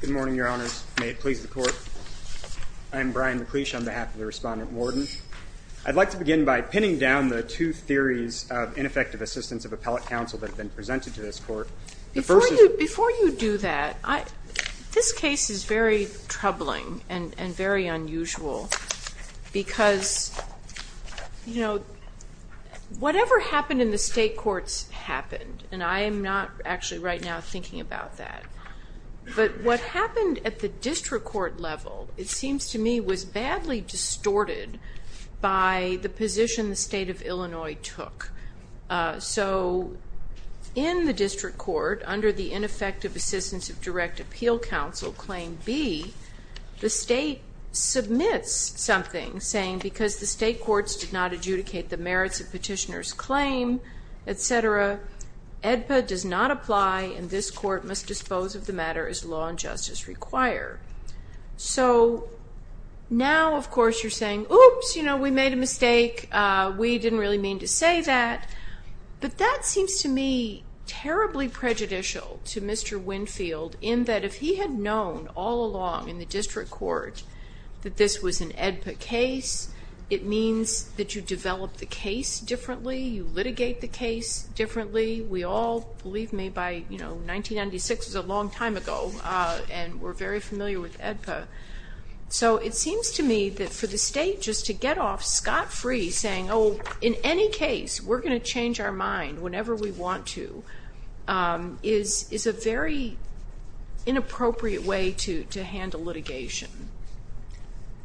Good morning, your honors. May it please the court. I'm Brian McLeish on behalf of the respondent warden. I'd like to begin by pinning down the two theories of ineffective assistance of appellate counsel that have been presented to this court. Before you do that, this case is very troubling and very unusual because whatever happened in the state courts happened. And I am not actually right now thinking about that. But what happened at the district court level, it seems to me, was badly distorted by the position the state of Illinois took. So in the district court, under the ineffective assistance of direct appeal counsel, claim B, the state submits something saying, because the state courts did not adjudicate the merits of petitioner's claim, et cetera, EDPA does not apply, and this court must dispose of the matter as law and justice require. So now, of course, you're saying, oops, we made a mistake. We didn't really mean to say that. But that seems to me terribly prejudicial to Mr. Winfield in that if he had known all along in the district court that this was an EDPA case, it means that you develop the case differently, you litigate the case differently. We all, believe me, by 1996 was a long time ago, and we're very familiar with EDPA. So it seems to me that for the state just to get off scot-free saying, oh, in any case, we're going to change our mind whenever we want to, is a very inappropriate way to handle litigation.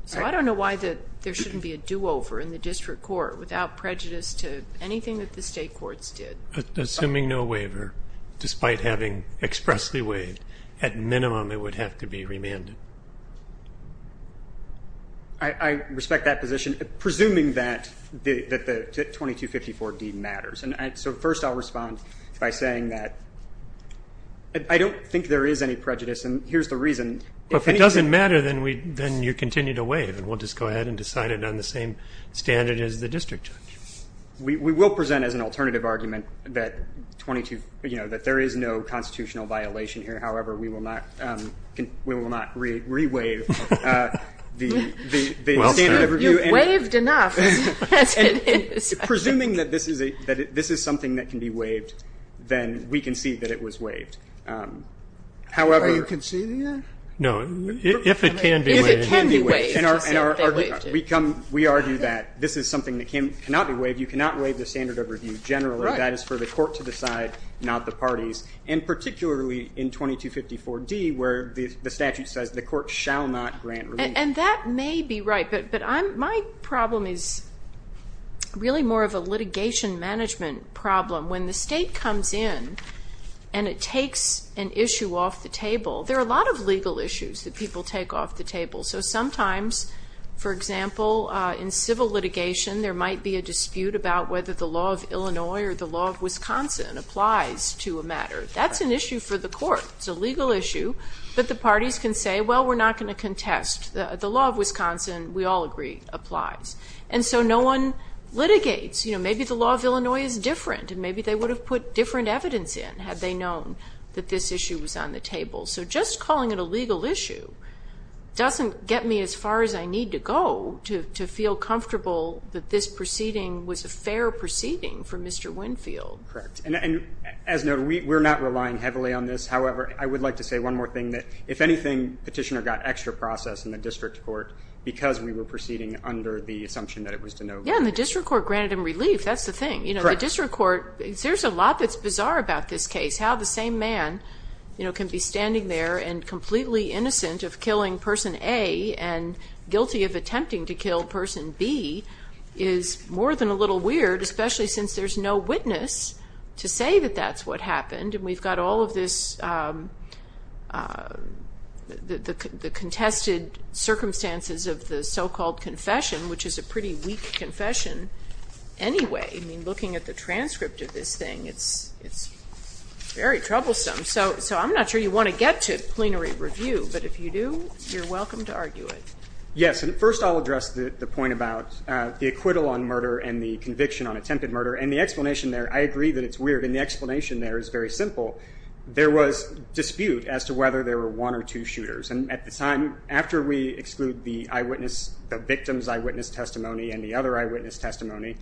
So I don't know why there shouldn't be a do-over in the district court without prejudice to anything that the state courts did. Assuming no waiver, despite having expressly waived, at minimum, it would have to be remanded. I respect that position, presuming that the 2254D matters. And so first, I'll respond by saying that I don't think there is any prejudice, and here's the reason. But if it doesn't matter, then you continue to waive, and we'll just go ahead and decide it on the same standard as the district judge. We will present as an alternative argument that there is no constitutional violation here. However, we will not re-waive the standard of review. You've waived enough, as it is. Presuming that this is something that can be waived, then we concede that it was waived. However, Are you conceding that? No, if it can be waived. If it can be waived, we'll say that they waived it. We argue that this is something that cannot be waived. You cannot waive the standard of review generally. That is for the court to decide, not the parties. And particularly in 2254D, where the statute says the court shall not grant review. And that may be right, but my problem is really more of a litigation management problem. When the state comes in and it takes an issue off the table, there are a lot of legal issues that people take off the table. So sometimes, for example, in civil litigation, there might be a dispute about whether the law of Illinois or the law of Wisconsin applies to a matter. That's an issue for the court. It's a legal issue. But the parties can say, well, we're not going to contest. The law of Wisconsin, we all agree, applies. And so no one litigates. Maybe the law of Illinois is different. And maybe they would have put different evidence in, had they known that this issue was on the table. So just calling it a legal issue doesn't get me as far as I need to go to feel comfortable that this proceeding was a fair proceeding for Mr. Winfield. Correct. And as noted, we're not relying heavily on this. However, I would like to say one more thing that, if anything, Petitioner got extra process in the district court, because we were proceeding under the assumption that it was to no good. Yeah, and the district court granted him relief. That's the thing. The district court, there's a lot that's bizarre about this case. How the same man can be standing there and completely innocent of killing person A and guilty of attempting to kill person B is more than a little weird, especially since there's no witness to say that that's what happened. And we've got all of the contested circumstances of the so-called confession, which is a pretty weak confession anyway. Looking at the transcript of this thing, it's very troublesome. So I'm not sure you want to get to plenary review. But if you do, you're welcome to argue it. Yes, and first I'll address the point about the acquittal on murder and the conviction on attempted murder. And the explanation there, I agree that it's weird. And the explanation there is very simple. There was dispute as to whether there were one or two shooters. And at the time, after we exclude the eyewitness, the victim's eyewitness testimony and the other eyewitness testimony,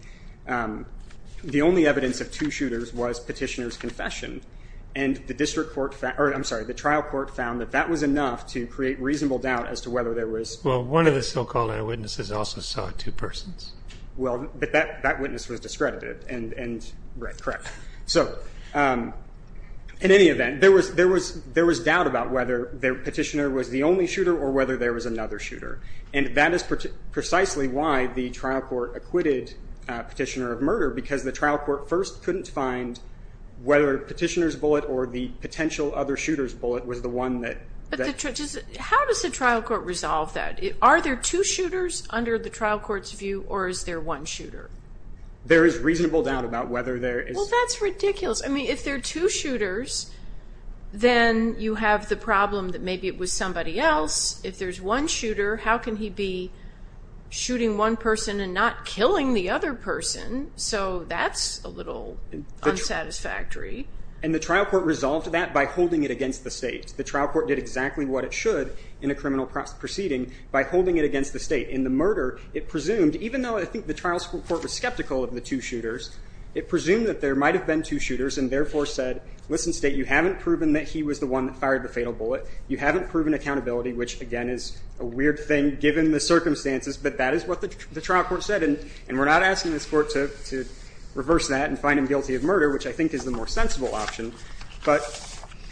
the only evidence of two shooters was petitioner's confession. And the trial court found that that was enough to create reasonable doubt as to whether there was. Well, one of the so-called eyewitnesses also saw two persons. Well, but that witness was discredited. And right, correct. So in any event, there was doubt about whether the petitioner was the only shooter or whether there was another shooter. And that is precisely why the trial court acquitted petitioner of murder, because the trial court first couldn't find whether petitioner's bullet or the potential other shooter's bullet was the one that. How does the trial court resolve that? Are there two shooters under the trial court's view, or is there one shooter? There is reasonable doubt about whether there is. Well, that's ridiculous. I mean, if there are two shooters, then you have the problem that maybe it was somebody else. If there's one shooter, how can he be shooting one person and not killing the other person? So that's a little unsatisfactory. And the trial court resolved that by holding it against the state. The trial court did exactly what it should in a criminal proceeding by holding it against the state. In the murder, it presumed, even though I think the trial court was skeptical of the two shooters, it presumed that there might have been two shooters and therefore said, listen, state, you haven't proven that he was the one that fired the fatal bullet. You haven't proven accountability, which, again, is a weird thing given the circumstances. But that is what the trial court said. And we're not asking this court to reverse that and find him guilty of murder, which I think is the more sensible option.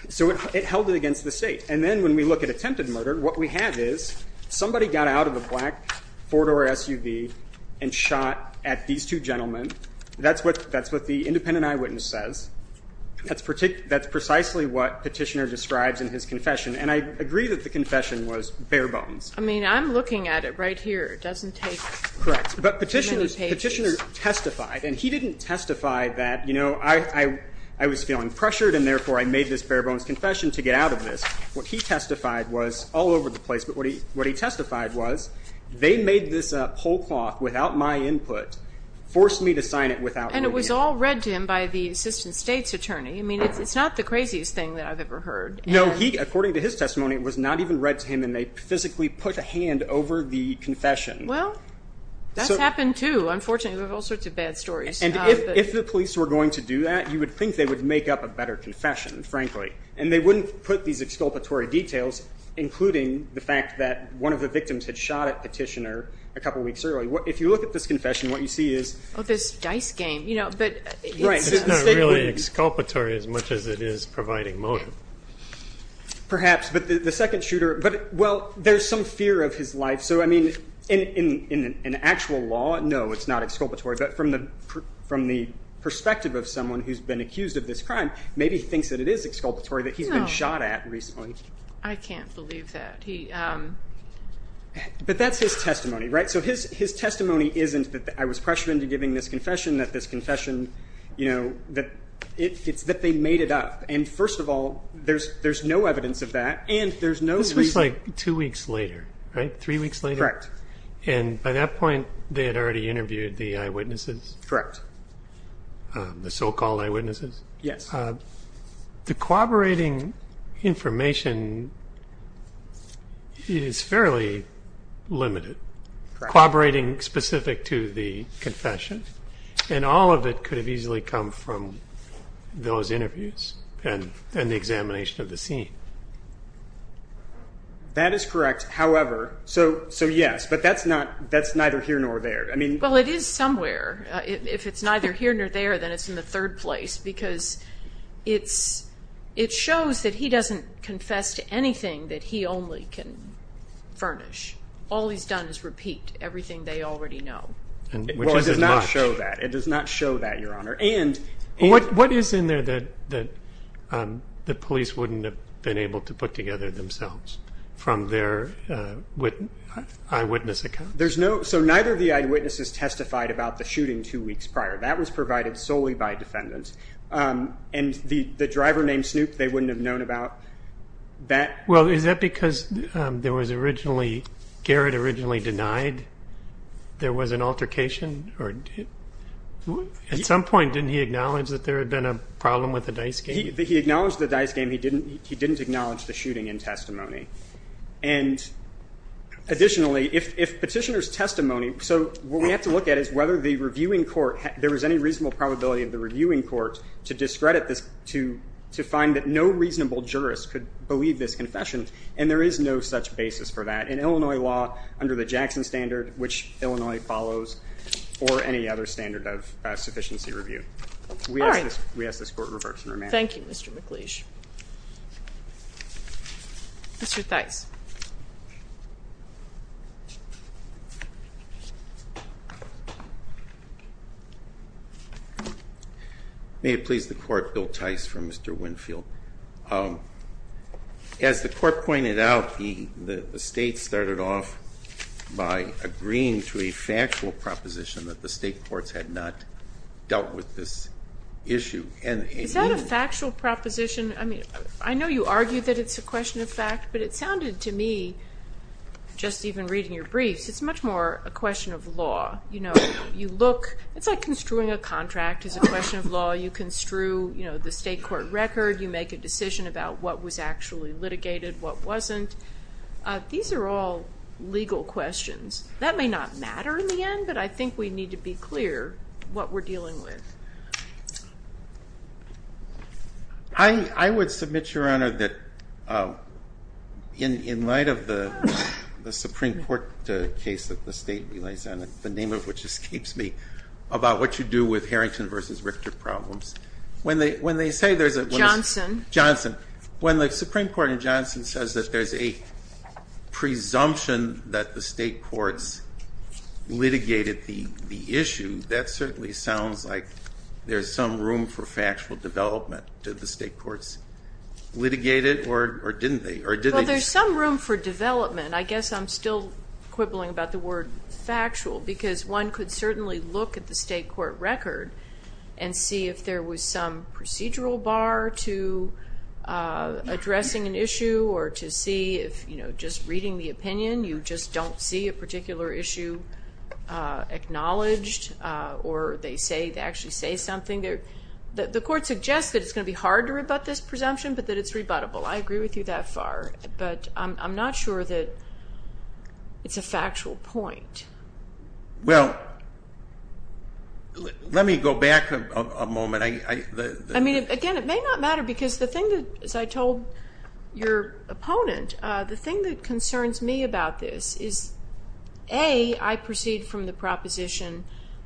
So it held it against the state. And then when we look at attempted murder, what we have is somebody got out of a black four-door SUV and shot at these two gentlemen. That's what the independent eyewitness says. That's precisely what Petitioner describes in his confession. And I agree that the confession was bare bones. I mean, I'm looking at it right here. It doesn't take many pages. Correct. But Petitioner testified. And he didn't testify that, you know, I was feeling pressured and therefore I made this bare bones confession to get out of this. What he testified was all over the place. But what he testified was, they made this pull cloth without my input, forced me to sign it without my view. And it was all read to him by the assistant state's attorney. I mean, it's not the craziest thing that I've ever heard. No, according to his testimony, it was not even read to him. And they physically put a hand over the confession. Well, that's happened too, unfortunately. There are all sorts of bad stories. And if the police were going to do that, you would think they would make up a better confession, frankly. And they wouldn't put these exculpatory details, including the fact that one of the victims had shot at Petitioner a couple weeks earlier. If you look at this confession, what you see is. Oh, this dice game. You know, but it's not really exculpatory as much as it is providing motive. Perhaps, but the second shooter. But well, there's some fear of his life. So I mean, in actual law, no, it's not exculpatory. But from the perspective of someone who's been accused of this crime, maybe he thinks that it is exculpatory that he's been shot at recently. I can't believe that. But that's his testimony, right? So his testimony isn't that I was pressured into giving this confession, that this confession, you know, it's that they made it up. And first of all, there's no evidence of that. And there's no reason. This was like two weeks later, right? Three weeks later? Correct. And by that point, they had already interviewed the eyewitnesses? Correct. The so-called eyewitnesses? Yes. The corroborating information is fairly limited. Corroborating specific to the confession. And all of it could have easily come from those interviews and the examination of the scene. That is correct. However, so yes, but that's neither here nor there. I mean, well, it is somewhere. If it's neither here nor there, then it's in the third place. Because it shows that he doesn't confess to anything that he only can furnish. All he's done is repeat everything they already know. Well, it does not show that. It does not show that, Your Honor. And what is in there that the police wouldn't have been able to put together themselves from their eyewitness account? So neither of the eyewitnesses testified about the shooting two weeks prior. That was provided solely by defendants. And the driver named Snoop, they wouldn't have known about that? Well, is that because there was originally, Garrett originally denied? There was an altercation? At some point, didn't he acknowledge that there had been a problem with the dice game? He acknowledged the dice game. He didn't acknowledge the shooting in testimony. And additionally, if petitioner's testimony, so what we have to look at is whether the reviewing court, there was any reasonable probability of the reviewing court to discredit this, to find that no reasonable jurist could believe this confession. And there is no such basis for that. In Illinois law, under the Jackson standard, which Illinois follows, or any other standard of sufficiency review, we ask this court reverts in remand. Thank you, Mr. McLeish. Mr. Theis. May it please the court, Bill Theis for Mr. Winfield. Thank you. As the court pointed out, the state started off by agreeing to a factual proposition that the state courts had not dealt with this issue. Is that a factual proposition? I mean, I know you argued that it's a question of fact, but it sounded to me, just even reading your briefs, it's much more a question of law. It's like construing a contract is a question of law. You construe the state court record. You make a decision about what was actually litigated, what wasn't. These are all legal questions. That may not matter in the end, but I think we need to be clear what we're dealing with. I would submit, Your Honor, that in light of the Supreme Court case that the state relies on, the name of which escapes me, about what you do with Harrington versus Richter problems, when they say there's a Johnson. When the Supreme Court in Johnson says that there's a presumption that the state courts litigated the issue, that certainly sounds like there's some room for factual development. Did the state courts litigate it, or didn't they? Well, there's some room for development. I guess I'm still quibbling about the word factual, because one could certainly look at the state court record and see if there was some procedural bar to addressing an issue, or to see if just reading the opinion, you just don't see a particular issue acknowledged, or they actually say something. The court suggests that it's going to be hard to rebut this presumption, but that it's rebuttable. I agree with you that far, but I'm not sure that it's a factual point. Well, let me go back a moment. I mean, again, it may not matter, because the thing that, as I told your opponent, the thing that concerns me about this is, A, I proceed from the proposition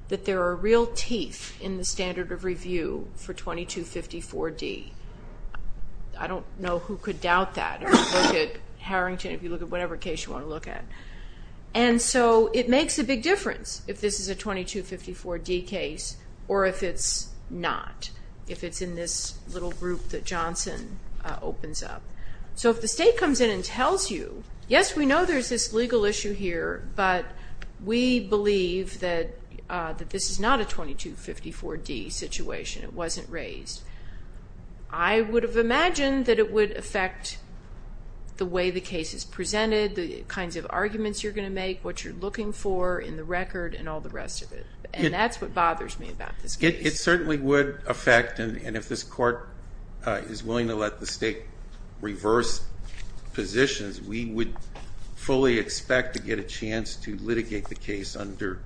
that there are real teeth in the standard of review for 2254D. I don't know who could doubt that, if you look at Harrington, if you look at whatever case you want to look at. And so it makes a big difference if this is a 2254D case, or if it's not, if it's in this little group that Johnson opens up. So if the state comes in and tells you, yes, we know there's this legal issue here, but we believe that this is not a 2254D situation, it wasn't raised, I would have imagined that it would affect the way the case is presented, the kinds of arguments you're going to make, what you're looking for in the record, and all the rest of it. And that's what bothers me about this case. It certainly would affect, and if this court is willing to let the state reverse positions, we would fully expect to get a chance to litigate the case under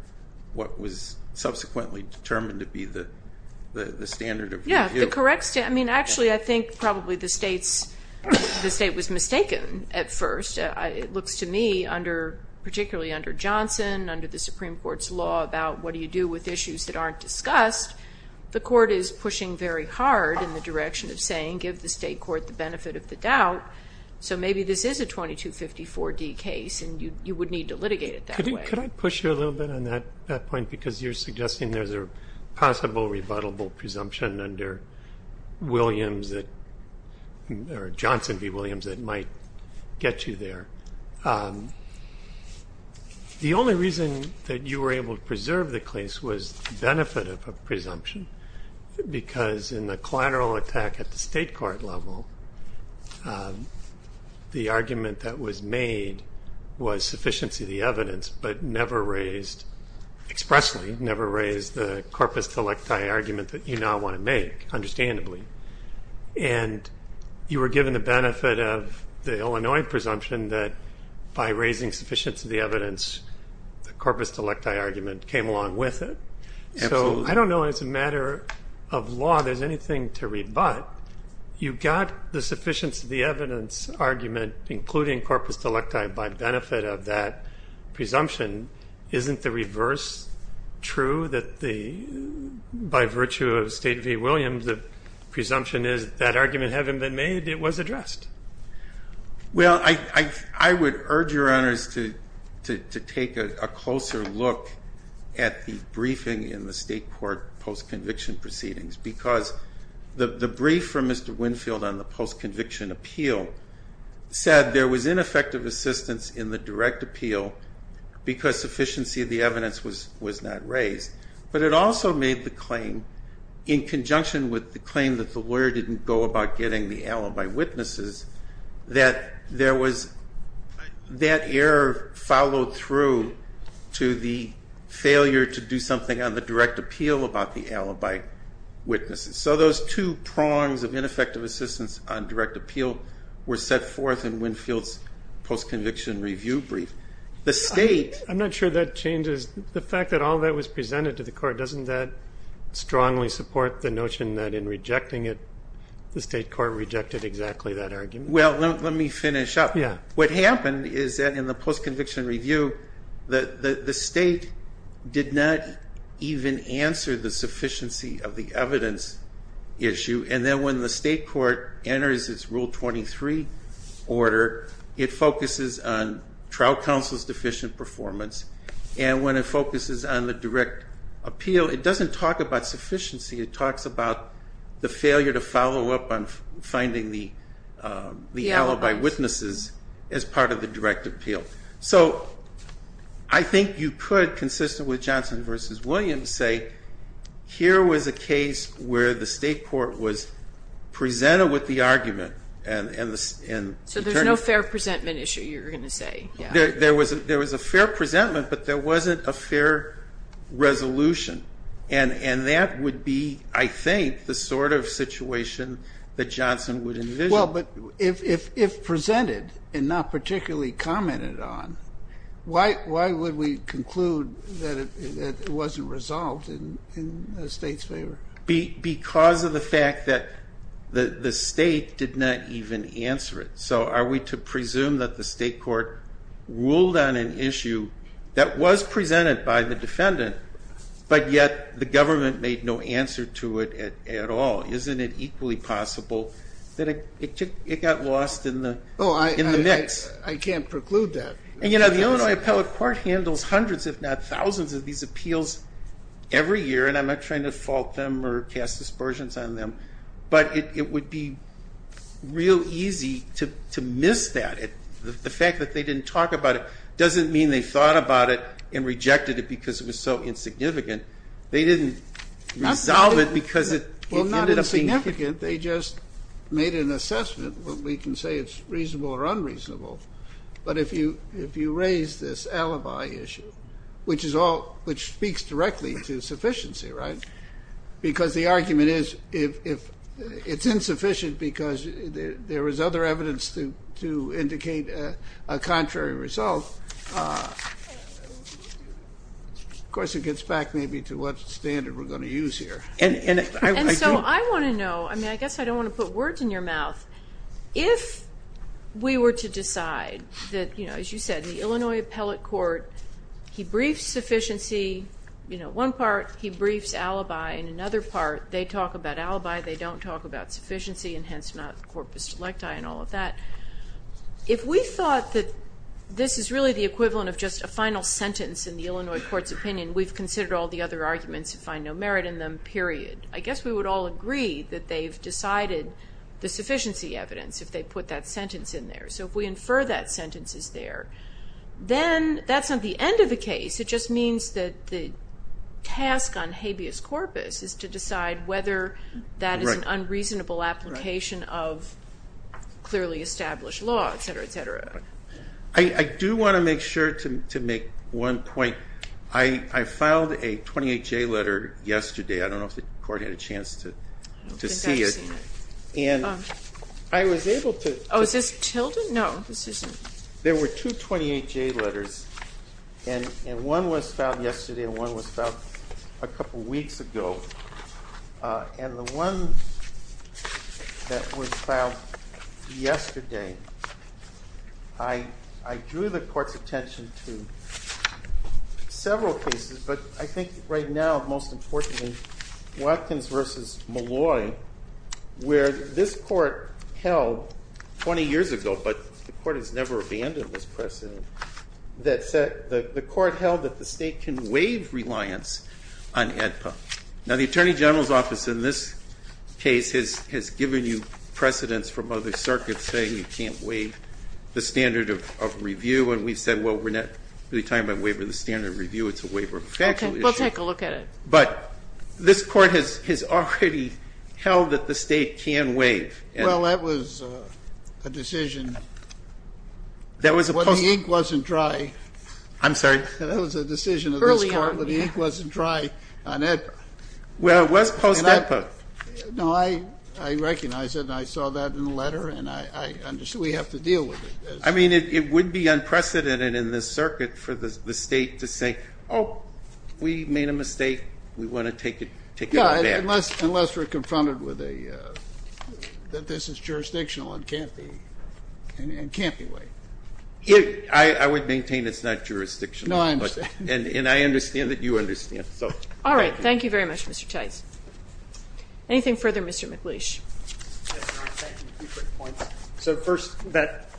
what was subsequently determined to be the standard of review. Yeah, the correct standard. I mean, actually, I think probably the state was mistaken at first. It looks to me, particularly under Johnson, under the Supreme Court's law about what do you do with issues that aren't discussed, the court is pushing very hard in the direction of saying, give the state court the benefit of the doubt. So maybe this is a 2254D case, and you would need to litigate it that way. Could I push you a little bit on that point? Because you're suggesting there's a possible rebuttable presumption under Johnson v. that might get you there. The only reason that you were able to preserve the case was the benefit of a presumption, because in the collateral attack at the state court level, the argument that was made was sufficiency of the evidence, but never raised expressly, never raised the corpus delecti argument that you now want to make, understandably. And you were given the benefit of the Illinois presumption that by raising sufficiency of the evidence, the corpus delecti argument came along with it. So I don't know as a matter of law there's anything to rebut. You've got the sufficiency of the evidence argument, including corpus delecti, by benefit of that presumption. Isn't the reverse true, that by virtue of State v. Williams, the presumption is that argument having been made, it was addressed? Well, I would urge your honors to take a closer look at the briefing in the state court post-conviction proceedings. Because the brief from Mr. Winfield on the post-conviction appeal said there was ineffective assistance in the direct appeal because sufficiency of the evidence was not raised. But it also made the claim, in conjunction with the claim that the lawyer didn't go about getting the alibi witnesses, that that error followed through to the failure to do something on the direct appeal about the alibi witnesses. So those two prongs of ineffective assistance on direct appeal were set forth in Winfield's post-conviction review brief. The state. I'm not sure that changes. The fact that all that was presented to the court, doesn't that strongly support the notion that in rejecting it, the state court rejected exactly that argument? Well, let me finish up. What happened is that in the post-conviction review, that the state did not even answer the sufficiency of the evidence issue. And then when the state court enters its Rule 23 order, it focuses on trial counsel's deficient performance. And when it focuses on the direct appeal, it doesn't talk about sufficiency. It talks about the failure to follow up on finding the alibi witnesses as part of the direct appeal. So I think you could, consistent with Johnson versus Williams, say, here was a case where the state court was presented with the argument. So there's no fair presentment issue, you're going to say. There was a fair presentment, but there wasn't a fair resolution. And that would be, I think, the sort of situation that Johnson would envision. Well, but if presented and not particularly commented on, why would we conclude that it wasn't resolved in the state's favor? Because of the fact that the state did not even answer it. So are we to presume that the state court ruled on an issue that was presented by the defendant, but yet the government made no answer to it at all? Isn't it equally possible that it got lost in the mix? I can't preclude that. And the Illinois Appellate Court handles hundreds, if not thousands, of these appeals every year. And I'm not trying to fault them or cast aspersions on them. But it would be real easy to miss that. The fact that they didn't talk about it doesn't mean they thought about it and rejected it because it was so insignificant. They didn't resolve it because it ended up being significant. They just made an assessment. But we can say it's reasonable or unreasonable. But if you raise this alibi issue, which speaks directly to sufficiency, right? Because the argument is if it's insufficient because there is other evidence to indicate a contrary result, of course it gets back maybe to what standard we're going to use here. And so I want to know, I mean, I guess I don't want to put words in your mouth. If we were to decide that, as you said, the Illinois Appellate Court, he briefs sufficiency, one part he briefs alibi, and another part they talk about alibi, they don't talk about sufficiency, and hence not corpus delecti and all of that. If we thought that this is really the equivalent of just a final sentence in the Illinois Court's opinion, we've considered all the other arguments and find no merit in them, period. I guess we would all agree that they've decided the sufficiency evidence if they put that sentence in there. So if we infer that sentence is there, then that's not the end of the case. It just means that the task on habeas corpus is to decide whether that is an unreasonable application of clearly established law, et cetera, et cetera. I do want to make sure to make one point. I filed a 28J letter yesterday. I don't know if the court had a chance to see it. And I was able to. Oh, is this tilted? No, this isn't. There were two 28J letters, and one was filed yesterday and one was filed a couple weeks ago. And the one that was filed yesterday, I drew the court's attention to several cases. But I think right now, most importantly, Watkins versus Malloy, where this court held 20 years ago, but the court has never abandoned this precedent, that the court held that the state can waive reliance on AEDPA. Now, the Attorney General's office in this case has given you precedents from other circuits saying you can't waive the standard of review. And we've said, well, we're not really talking about waiving the standard of review. It's a waiver of factual issue. We'll take a look at it. But this court has already held that the state can waive. Well, that was a decision when the ink wasn't dry. I'm sorry? That was a decision of this court when the ink wasn't dry on AEDPA. Well, it was post-AEDPA. No, I recognize it. And I saw that in the letter. And I understood we have to deal with it. I mean, it would be unprecedented in this circuit for the state to say, oh, we made a mistake. We want to take it back. Unless we're confronted with that this is jurisdictional and can't be waived. I would maintain it's not jurisdictional. No, I understand. And I understand that you understand. All right, thank you very much, Mr. Tice. Anything further, Mr. McLeish? Yes, Your Honor. Thank you. A few quick points. So first,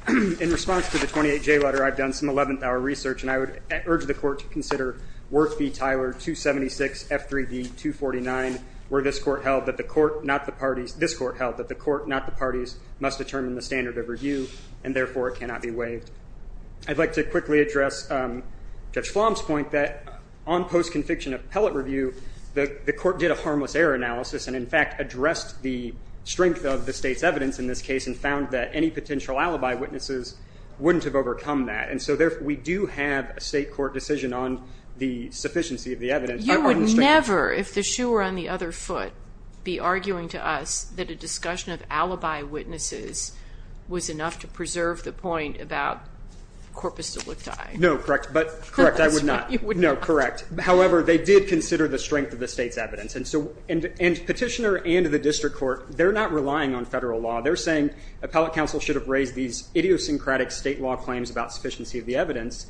in response to the 28J letter, I've done some 11th hour research. And I would urge the court to consider Worth v. Tyler, 276, F3d, 249, where this court held that the court, not the parties, this court held that the court, not the parties, must determine the standard of review. And therefore, it cannot be waived. I'd like to quickly address Judge Flom's point that on post-conviction appellate review, the court did a harmless error analysis. And in fact, addressed the strength of the state's evidence in this case and found that any potential alibi witnesses wouldn't have overcome that. And so we do have a state court decision on the sufficiency of the evidence. You would never, if the shoe were on the other foot, be arguing to us that a discussion of alibi witnesses was enough to preserve the point about corpus delicti. No, correct. But correct, I would not. You would not. No, correct. However, they did consider the strength of the state's evidence. And petitioner and the district court, they're not relying on federal law. have raised these idiosyncratic state law claims about sufficiency of the evidence.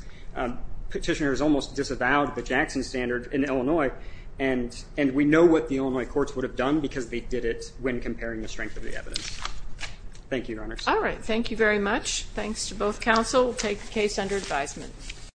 Petitioners almost disavowed the Jackson standard in Illinois. And we know what the Illinois courts would have done because they did it when comparing the strength of the evidence. Thank you, Your Honors. Thank you very much. Thanks to both counsel. We'll take the case under advisement.